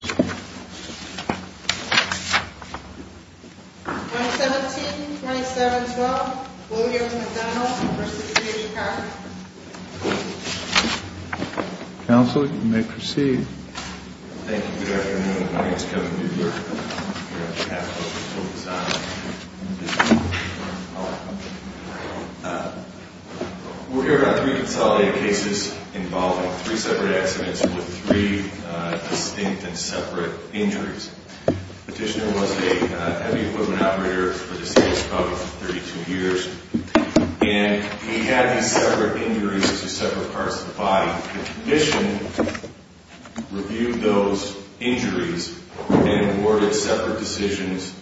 17-27-12, Williams-McDonald v. D. Carpenter Counsel, you may proceed. Thank you. Good afternoon. My name is Kevin Buehler. I'm here on behalf of the full design division. We're here about three consolidated cases involving three separate accidents with three distinct and separate injuries. Petitioner was a heavy equipment operator for this case, probably for 32 years. And he had these separate injuries to separate parts of the body. The Commission reviewed those injuries and awarded separate decisions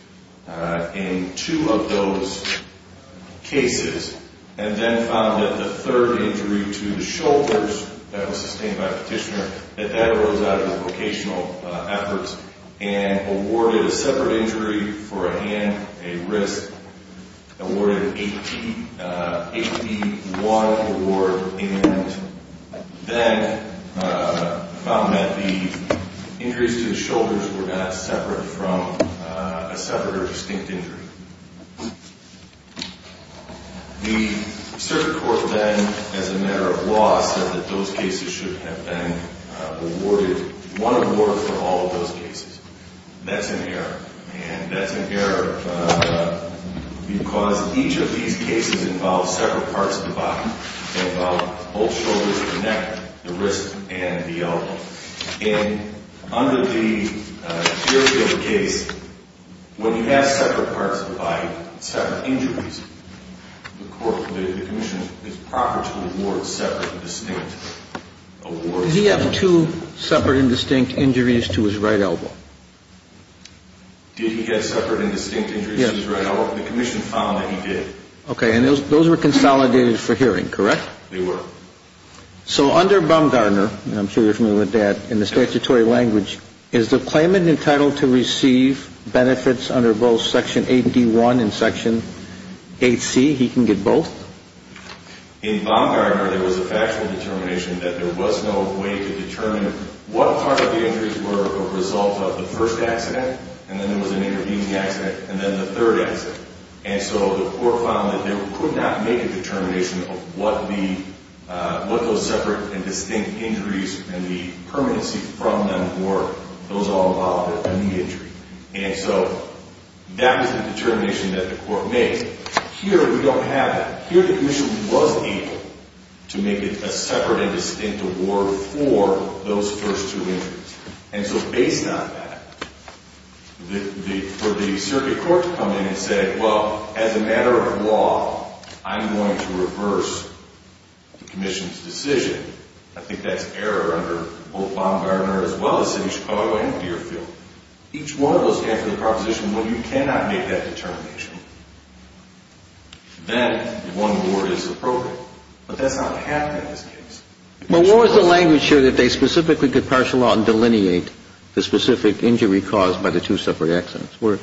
in two of those cases, and then found that the third injury to the shoulders that was sustained by Petitioner, that that arose out of the vocational efforts, and awarded a separate injury for a hand, a wrist, awarded an 81 award, and then found that the injuries to the shoulders were not separate from a separate or distinct injury. The circuit court then, as a matter of law, said that those cases should have been awarded one award for all of those cases. That's an error, and that's an error because each of these cases involves separate parts of the body. They involve both shoulders of the neck, the wrist, and the elbow. And under the theory of the case, when he has separate parts of the body, separate injuries, the Commission is proper to award separate and distinct awards. So did he have two separate and distinct injuries to his right elbow? Did he have separate and distinct injuries to his right elbow? The Commission found that he did. Okay, and those were consolidated for hearing, correct? They were. So under Baumgartner, and I'm sure you're familiar with that, in the statutory language, is the claimant entitled to receive benefits under both Section 8D1 and Section 8C? He can get both? In Baumgartner, there was a factual determination that there was no way to determine what part of the injuries were a result of the first accident, and then there was an intervening accident, and then the third accident. And so the court found that they could not make a determination of what those separate and distinct injuries and the permanency from them were, those all involved in the injury. And so that was the determination that the court made. Here, we don't have that. Here, the Commission was able to make a separate and distinct award for those first two injuries. And so based on that, for the circuit court to come in and say, well, as a matter of law, I'm going to reverse the Commission's decision, I think that's error under both Baumgartner as well as City of Chicago and Deerfield. Each one of those came from the proposition, well, you cannot make that determination. Then one award is appropriate. But that's not what happened in this case. Well, what was the language here that they specifically could partial out and delineate the specific injury caused by the two separate accidents? Where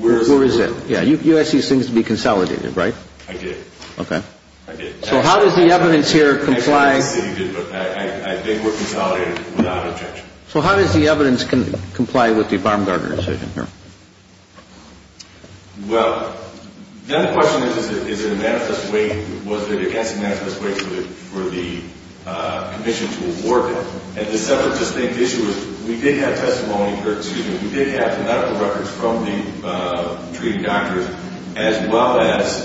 is it? You asked these things to be consolidated, right? I did. Okay. I did. So how does the evidence here comply? I think we're consolidated without objection. So how does the evidence comply with the Baumgartner decision here? Well, the other question is, is it a manifest way, was it against a manifest way for the Commission to award them? And the separate and distinct issue is we did have testimony, we did have medical records from the treating doctors as well as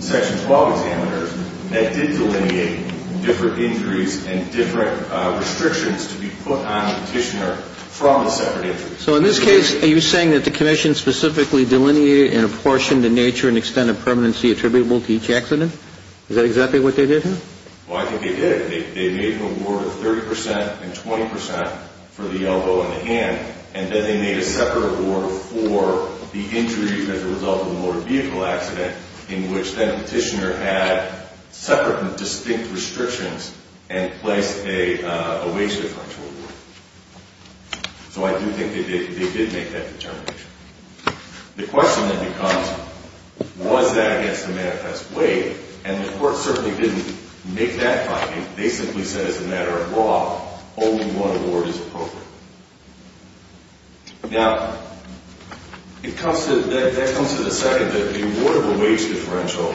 Section 12 examiners that did delineate different injuries and different restrictions to be put on the petitioner from the separate injuries. So in this case, are you saying that the Commission specifically delineated and apportioned the nature and extent of permanency attributable to each accident? Is that exactly what they did here? Well, I think they did. They made an award of 30 percent and 20 percent for the elbow and the hand, and then they made a separate award for the injuries as a result of the motor vehicle accident in which that petitioner had separate and distinct restrictions and placed a wage differential award. So I do think they did make that determination. The question then becomes, was that against the manifest way? And the court certainly didn't make that finding. They simply said as a matter of law, only one award is appropriate. Now, that comes to the second, the award of a wage differential.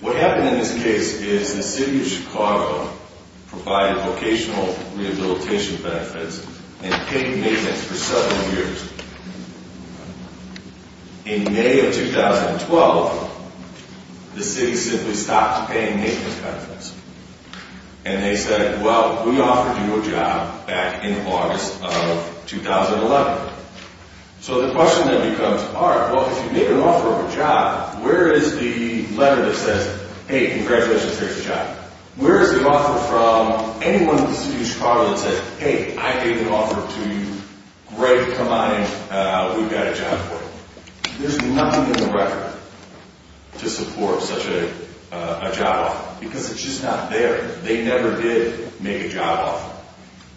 What happened in this case is the city of Chicago provided vocational rehabilitation benefits and paid maintenance for seven years. In May of 2012, the city simply stopped paying maintenance benefits, and they said, well, we offered you a job back in August of 2011. So the question then becomes, all right, well, if you make an offer of a job, where is the letter that says, hey, congratulations, here's a job? Where is the offer from anyone in the city of Chicago that says, hey, I gave the offer to you, great, come on in, we've got a job for you? There's nothing in the record to support such a job offer because it's just not there. They never did make a job offer.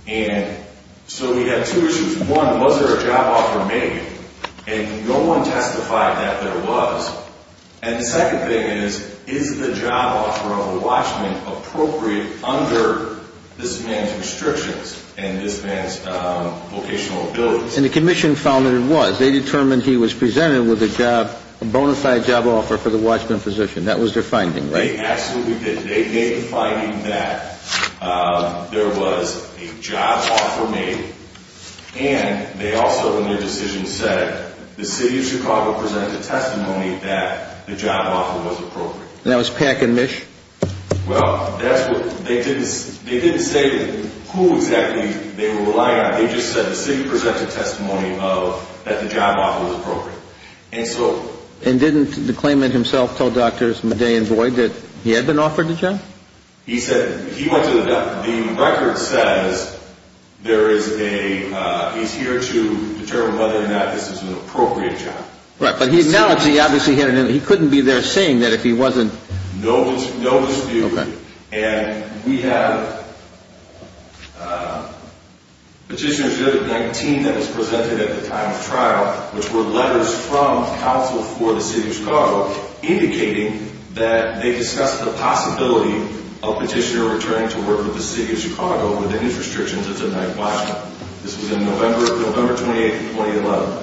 And so we had two issues. One, was there a job offer made? And no one testified that there was. And the second thing is, is the job offer of a watchman appropriate under this man's restrictions and this man's vocational abilities? And the commission found that it was. They determined he was presented with a job, a bona fide job offer for the watchman position. That was their finding, right? They absolutely did. They made the finding that there was a job offer made, and they also in their decision said the city of Chicago presented a testimony that the job offer was appropriate. And that was Pack and Mish? Well, that's what they didn't say who exactly they were relying on. And didn't the claimant himself tell Doctors Medea and Boyd that he had been offered the job? He said he went to the doctor. The record says there is a, he's here to determine whether or not this is an appropriate job. Right, but now he obviously couldn't be there saying that if he wasn't. No dispute. And we have Petitioner 119 that was presented at the time of trial, which were letters from counsel for the city of Chicago indicating that they discussed the possibility of Petitioner returning to work with the city of Chicago within his restrictions as a night watchman. This was in November 28th of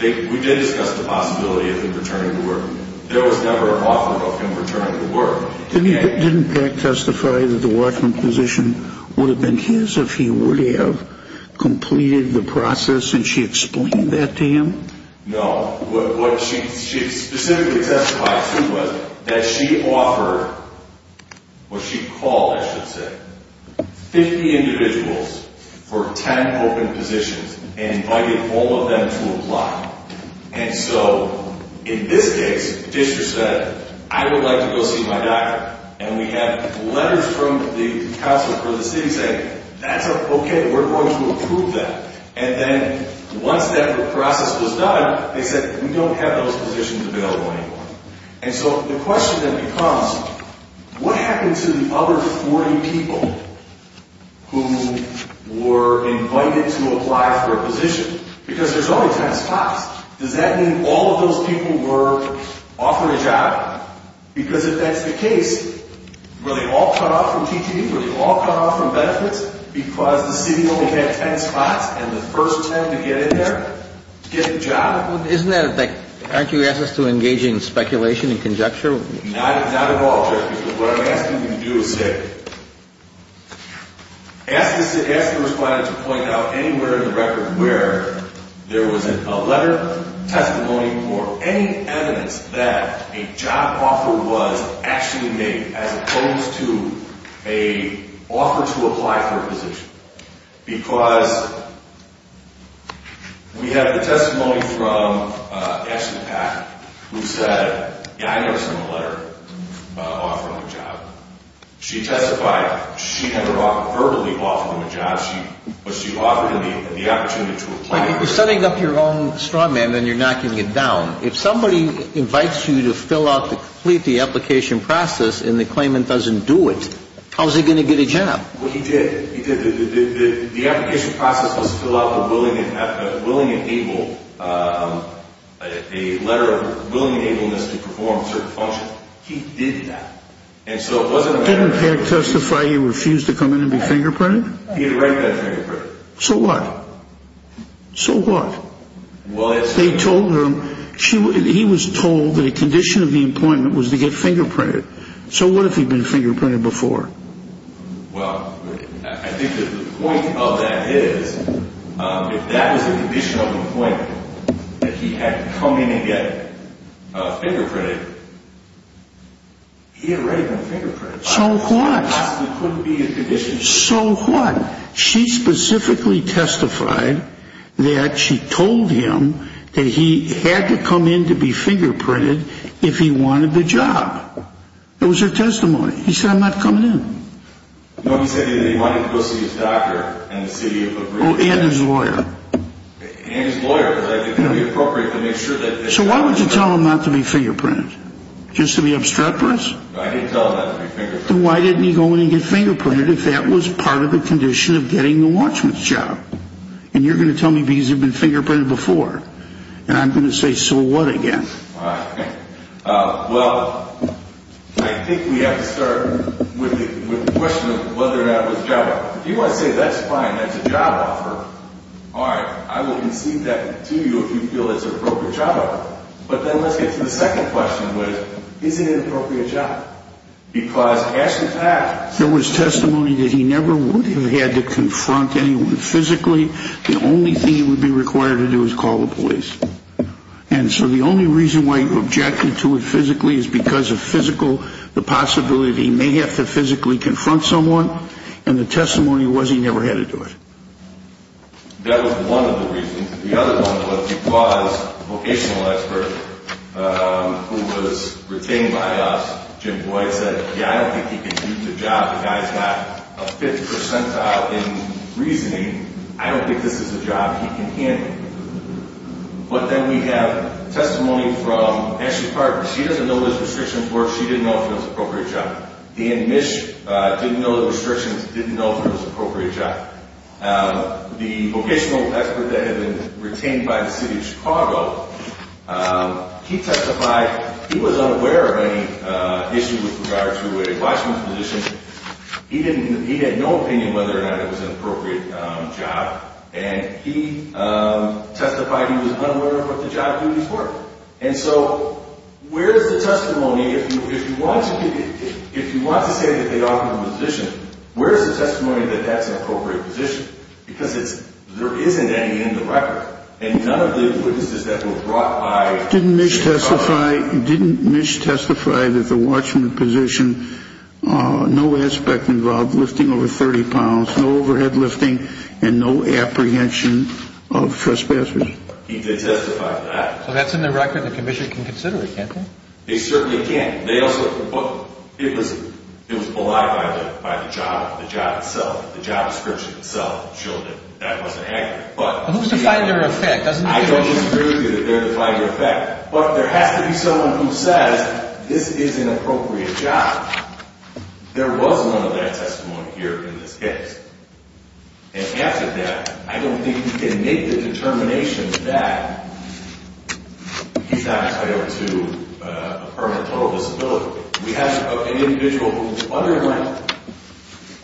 2011. We did discuss the possibility of him returning to work. There was never an offer of him returning to work. Didn't Pack testify that the watchman position would have been his if he would have completed the process? And she explained that to him? No. What she specifically testified to was that she offered, what she called I should say, 50 individuals for 10 open positions and invited all of them to apply. And so in this case, Petitioner said, I would like to go see my doctor. And we have letters from the counsel for the city saying, that's okay, we're going to approve that. And then once that process was done, they said, we don't have those positions available anymore. And so the question then becomes, what happened to the other 40 people who were invited to apply for a position? Because there's only 10 spots. Does that mean all of those people were offered a job? Because if that's the case, were they all cut off from teaching? Were they all cut off from benefits because the city only had 10 spots and the first 10 to get in there get the job? Well, isn't that a thing? Aren't you asking us to engage in speculation and conjecture? Not at all, Jeff, because what I'm asking you to do is say, ask the respondent to point out anywhere in the record where there was a letter, testimony, or any evidence that a job offer was actually made as opposed to an offer to apply for a position. Because we have the testimony from Ashley Pack, who said, yeah, I noticed in the letter an offer on the job. She testified she had a verbally offered him a job. She offered him the opportunity to apply. If you're setting up your own straw man, then you're knocking it down. If somebody invites you to fill out to complete the application process and the claimant doesn't do it, how is he going to get a job? Well, he did. He did. The application process was to fill out a willing and able, a letter of willing and ableness to perform a certain function. He did that. Didn't Pack testify he refused to come in and be fingerprinted? He had already been fingerprinted. So what? So what? They told him, he was told that a condition of the appointment was to get fingerprinted. So what if he'd been fingerprinted before? Well, I think that the point of that is, if that was the condition of the appointment, that he had to come in and get fingerprinted, he had already been fingerprinted. So what? Possibly couldn't be a condition. So what? She specifically testified that she told him that he had to come in to be fingerprinted if he wanted the job. It was her testimony. He said, I'm not coming in. No, he said that he wanted to go see his doctor and the city of Labrida. Oh, and his lawyer. And his lawyer, because it would be appropriate to make sure that... So why would you tell him not to be fingerprinted? Just to be obstreperous? I didn't tell him not to be fingerprinted. Then why didn't he go in and get fingerprinted if that was part of a condition of getting the watchman's job? And you're going to tell me because he'd been fingerprinted before. And I'm going to say, so what, again? Well, I think we have to start with the question of whether or not it was a job offer. If you want to say that's fine, that's a job offer, all right. I will concede that to you if you feel it's an appropriate job offer. But then let's get to the second question, which is, is it an appropriate job? Because ask the facts. There was testimony that he never would have had to confront anyone physically. The only thing he would be required to do is call the police. And so the only reason why he objected to it physically is because of physical, the possibility that he may have to physically confront someone. And the testimony was he never had to do it. That was one of the reasons. The other one was because a vocational expert who was retained by us, Jim Boyd, said, yeah, I don't think he can do the job. The guy's got a fifth percentile in reasoning. I don't think this is a job he can handle. But then we have testimony from Ashley Parker. She doesn't know his restrictions work. She didn't know if it was an appropriate job. Dan Misch didn't know the restrictions, didn't know if it was an appropriate job. The vocational expert that had been retained by the city of Chicago, he testified, he was unaware of any issues with regard to a watchman's position. He had no opinion whether or not it was an appropriate job. And he testified he was unaware of what the job duties were. And so where is the testimony, if you want to say that they offered a position, where is the testimony that that's an appropriate position? Because there isn't any in the record. And none of the witnesses that were brought by the Chicago. Didn't Misch testify that the watchman position, no aspect involved lifting over 30 pounds, no overhead lifting, and no apprehension of trespassers? He did testify to that. So that's in the record. The commission can consider it, can't they? They certainly can. It was belied by the job, the job itself. The job description itself showed that that wasn't accurate. But who's to find their effect? I don't disagree with you that they're to find their effect. But there has to be someone who says this is an appropriate job. There was none of that testimony here in this case. And after that, I don't think we can make the determination that he's not entitled to a permanent total disability. We have an individual who underwent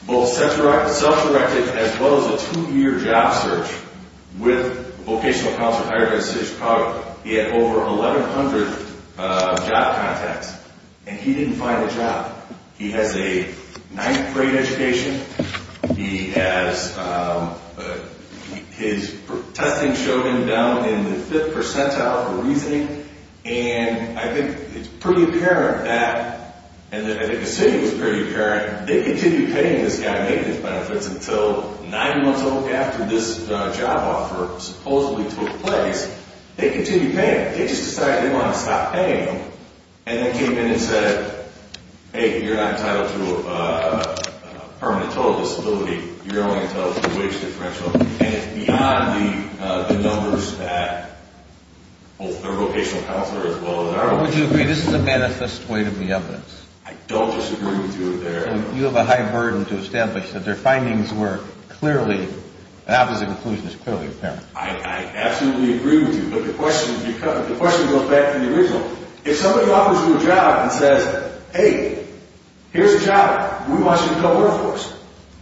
both self-directed as well as a two-year job search with Vocational Counselor of Higher Education Chicago. He had over 1,100 job contacts, and he didn't find a job. He has a ninth-grade education. His testing showed him down in the fifth percentile for reasoning. And I think it's pretty apparent that, and I think the city was pretty apparent, they continued paying this guy maintenance benefits until nine months after this job offer supposedly took place. They continued paying him. They just decided they wanted to stop paying him. And then came in and said, hey, you're not entitled to a permanent total disability. You're only entitled to a wage differential. And it's beyond the numbers that both their Vocational Counselor as well as their own. Would you agree this is a manifest way to be evidence? I don't disagree with you there. You have a high burden to establish that their findings were clearly, that was the conclusion that's clearly apparent. I absolutely agree with you, but the question goes back to the original. If somebody offers you a job and says, hey, here's a job, we want you to go work for us,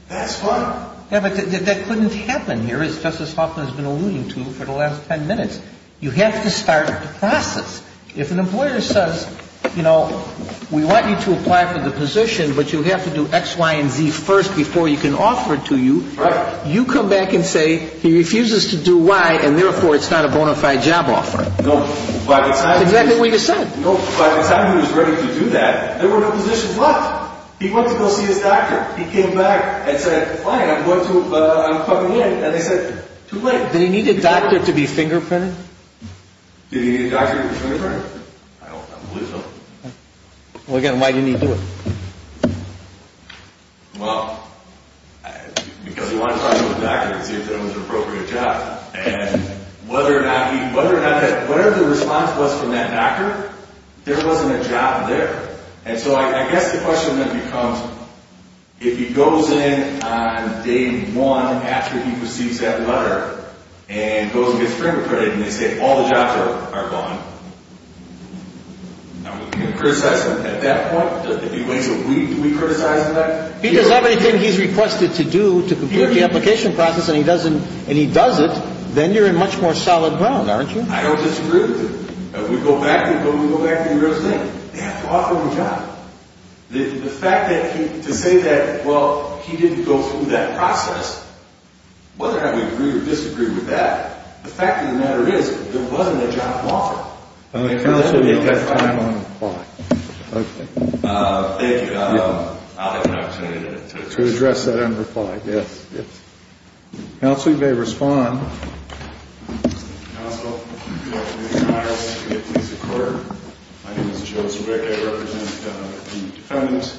that's fine. Yeah, but that couldn't happen here, as Justice Hoffman has been alluding to for the last ten minutes. You have to start the process. If an employer says, you know, we want you to apply for the position, but you have to do X, Y, and Z first before you can offer it to you. Right. You come back and say he refuses to do Y, and therefore it's not a bona fide job offer. Exactly what you said. By the time he was ready to do that, there were no positions left. He went to go see his doctor. He came back and said, fine, I'm going to, but I'm coming in. And they said, too late. Did he need a doctor to be fingerprinted? Did he need a doctor to be fingerprinted? I don't believe so. Well, again, why didn't he do it? Well, because he wanted to talk to his doctor and see if that was an appropriate job. And whether or not he, whatever the response was from that doctor, there wasn't a job there. And so I guess the question then becomes, if he goes in on day one after he receives that letter and goes and gets fingerprinted, and they say all the jobs are gone, are we going to criticize him at that point? Do we criticize the doctor? He does everything he's requested to do to complete the application process, and he doesn't, and he does it, then you're in much more solid ground, aren't you? I don't disagree with him. We go back to the real thing. They have to offer him a job. The fact that he, to say that, well, he didn't go through that process, whether or not we agree or disagree with that, the fact of the matter is there wasn't a job offer. Counsel, we've got time on the clock. Okay. Thank you. I'll have an opportunity to address that on the clock. Yes. Counsel, you may respond. Counsel, good afternoon. My name is Joseph Rick. I represent the defendant,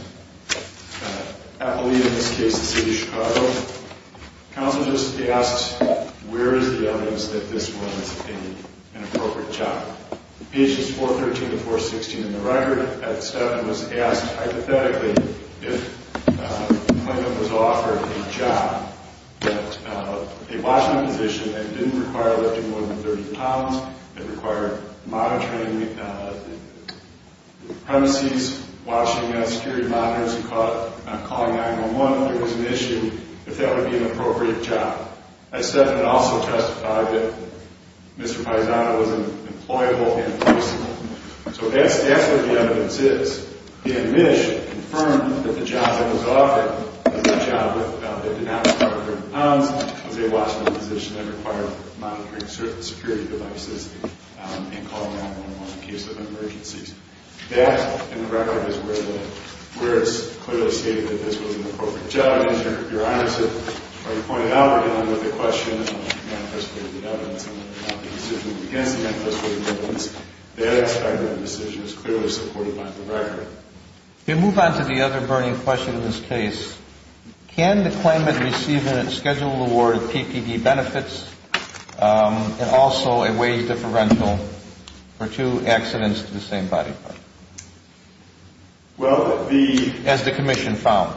Appleby in this case, the city of Chicago. Counsel just asked, where is the evidence that this was an appropriate job? Pages 413 to 416 in the record, that Stephan was asked hypothetically if the plaintiff was offered a job, that a Washington position that didn't require lifting more than 30 pounds, that required monitoring the premises, watching security monitors and calling 9-1-1, there was an issue if that would be an appropriate job. And Stephan also testified that Mr. Paisano wasn't employable in person. So that's where the evidence is. Dan Misch confirmed that the job that was offered was a job that did not require lifting pounds, was a Washington position that required monitoring certain security devices and calling 9-1-1 in case of emergencies. That, in the record, is where it's clearly stated that this was an appropriate job. And as Your Honor pointed out, we're dealing with the question of manifestly the evidence against the manifestly the evidence. That aspect of that decision is clearly supported by the record. If you move on to the other burning question in this case, can the claimant receive a scheduled award of PPB benefits and also a wage differential for two accidents to the same body part? Well, the- As the commission found.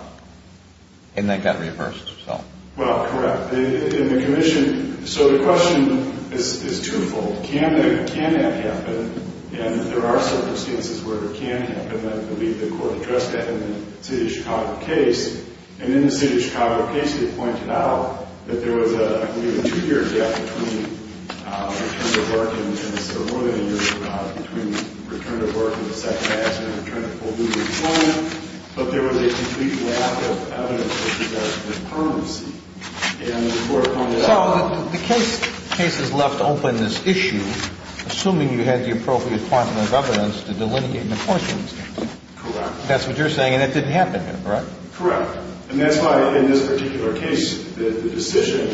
And that got reversed, so. Well, correct. In the commission- So the question is twofold. Can that happen? And there are circumstances where it can happen. I believe the court addressed that in the City of Chicago case. And in the City of Chicago case, they pointed out that there was, I believe, a two-year gap between return to work and- So more than a year gap between return to work and the second accident, return to full duty employment. But there was a complete lack of evidence that there was a permanency. And the court pointed out- So the case has left open this issue, assuming you had the appropriate quantum of evidence to delineate an enforcement stance. Correct. That's what you're saying, and it didn't happen, correct? Correct. And that's why, in this particular case, the decision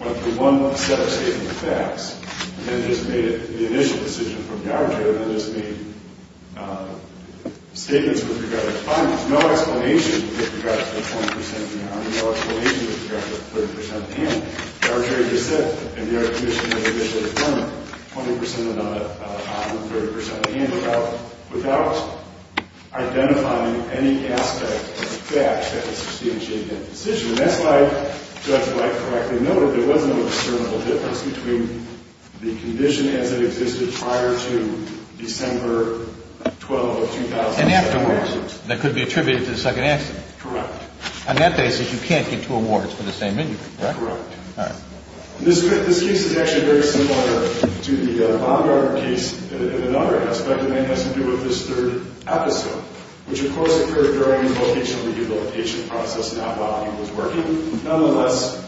went through one set of statement of facts and then just made it the initial decision from the arbitrator and then just made statements with regard to the claimant. There was no explanation with regard to the 20 percent and on it. No explanation with regard to the 30 percent and. The arbitrator just said in their initial statement, 20 percent and on it, 30 percent and, without identifying any aspect of the facts that could substantiate that decision. And that's why, Judge White correctly noted, there was no discernible difference between the condition as it existed prior to December 12, 2004. That could be attributed to the second accident. Correct. On that basis, you can't get two awards for the same injury, correct? Correct. All right. This case is actually very similar to the bond robber case in another aspect, and that has to do with this third episode, which, of course, occurred during the vocational rehabilitation process, not while he was working. Nonetheless,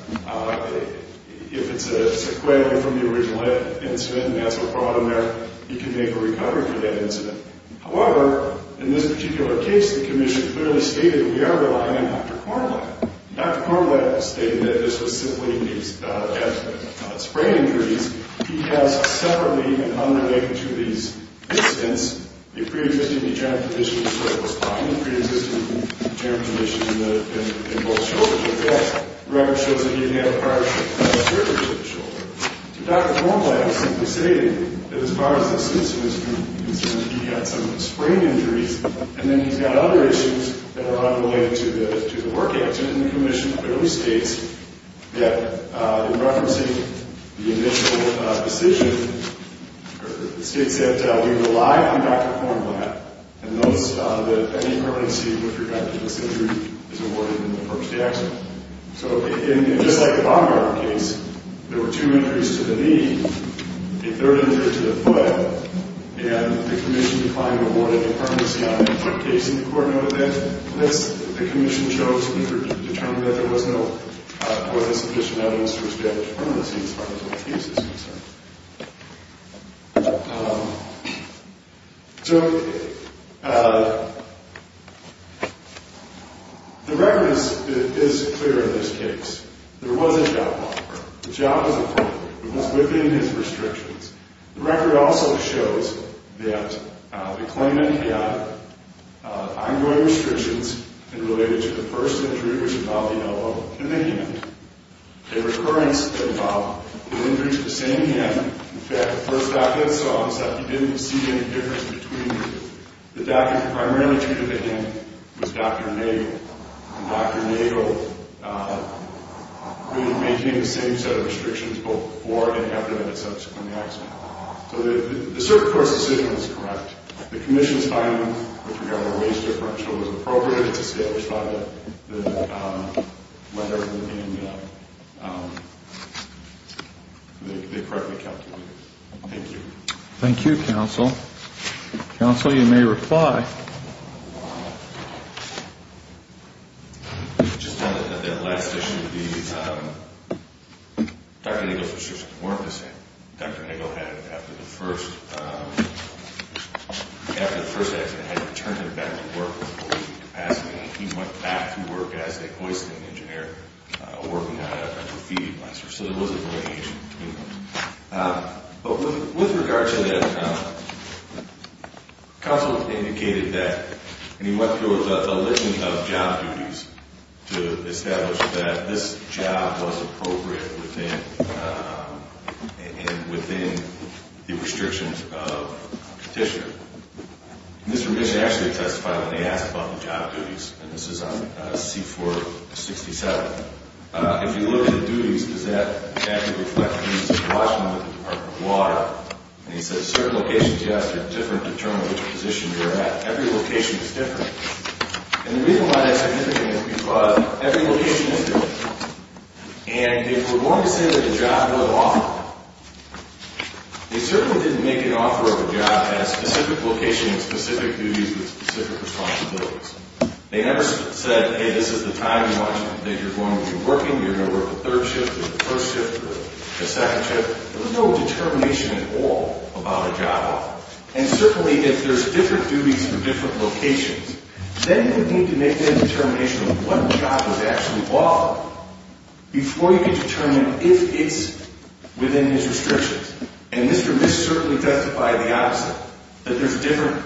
if it's a sequelae from the original incident, and that's what brought him there, he can make a recovery from that incident. However, in this particular case, the commission clearly stated that we are relying on Dr. Cornlatt. Dr. Cornlatt stated that this was simply a death from sprain injuries. He has separately and unrelated to these incidents, a preexisting eugenic condition in the cervical spine, a preexisting eugenic condition in both shoulders. In fact, the record shows that he didn't have a prior seizure of the shoulder. So Dr. Cornlatt simply stated that as far as the suit is concerned, he had some sprain injuries, and then he's got other issues that are unrelated to the work accident. The commission clearly states that in referencing the initial decision, it states that we rely on Dr. Cornlatt and notes that any permanency with regard to this injury is awarded in the first accident. So just like the Baumgart case, there were two injuries to the knee, a third injury to the foot, and the commission declined to award any permanency on any foot case in the court note of that. Unless the commission chose or determined that there was no or was sufficient evidence to respect permanency as far as the case is concerned. So the record is clear in this case. There was a job loss. The job was a fault. It was within his restrictions. The record also shows that the claimant had ongoing restrictions related to the first injury which involved the elbow and the hand. A recurrence involved an injury to the same hand. In fact, the first doctor that saw him said he didn't see any difference between the doctor who primarily treated the hand was Dr. Nagle. And Dr. Nagle maintained the same set of restrictions both before and after that subsequent accident. So the circuit court's decision was correct. The commission's finding with regard to the waist differential was appropriate. The circuit is established by whether they correctly calculated it. Thank you. Thank you, counsel. Counsel, you may reply. I just wanted to add that the last issue would be Dr. Nagle's restrictions weren't the same. Dr. Nagle had, after the first accident, had to return him back to work. He went back to work as a hoisting engineer working on a graffiti blaster. So there was a variation between them. But with regard to that, counsel indicated that, and he went through a list of job duties to establish that this job was appropriate within the restrictions of petitioner. And this commission actually testified when they asked about the job duties. And this is on C-467. If you look at duties, does that actually reflect the duties of the Washington Department of Water? And he said certain locations you ask are different to determine which position you're at. Every location is different. And the reason why that's significant is because every location is different. And if we're going to say that a job was offered, they certainly didn't make an offer of a job at a specific location and specific duties with specific responsibilities. They never said, hey, this is the time in Washington that you're going to be working. You're going to work the third shift or the first shift or the second shift. There was no determination at all about a job offer. And certainly if there's different duties for different locations, then you would need to make that determination of what job was actually offered before you could determine if it's within his restrictions. And Mr. Misk certainly testified the opposite, that there's different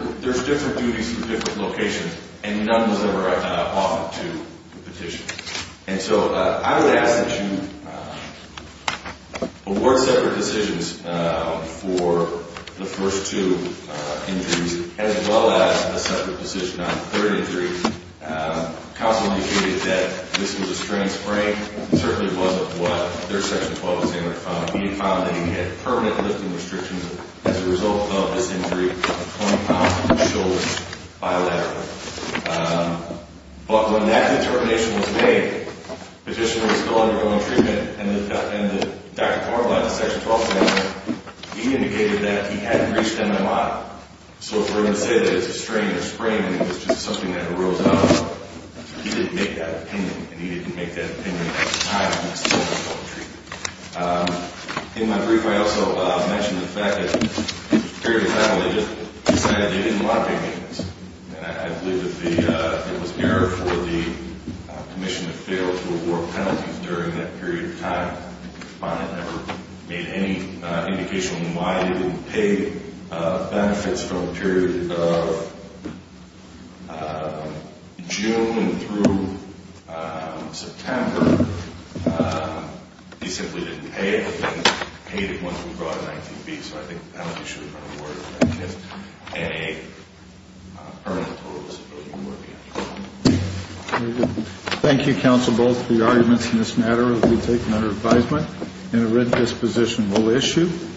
duties for different locations, and none was ever offered to the petitioner. And so I would ask that you award separate decisions for the first two injuries as well as a separate decision on the third injury. Counsel indicated that this was a strength sprain. It certainly wasn't what their Section 12 examiner found. He had found that he had permanent lifting restrictions as a result of this injury, 20 pounds on his shoulders bilaterally. But when that determination was made, the petitioner was still undergoing treatment, and Dr. Kornblatt, the Section 12 examiner, he indicated that he hadn't reached MMI. So if we're going to say that it's a strain or a sprain and it was just something that arose up, he didn't make that opinion, and he didn't make that opinion at the time he was still undergoing treatment. In my brief, I also mentioned the fact that a period of time they just decided they didn't want to pay payments. And I believe that it was an error for the commission to fail to award penalties during that period of time. The respondent never made any indication on why they wouldn't pay benefits from the period of June through September. He simply didn't pay anything, paid it once we brought in item B. So I think that should have been awarded against a person with a total disability. Thank you, counsel, both for your arguments in this matter. We take them under advisement. And a writ disposition will issue.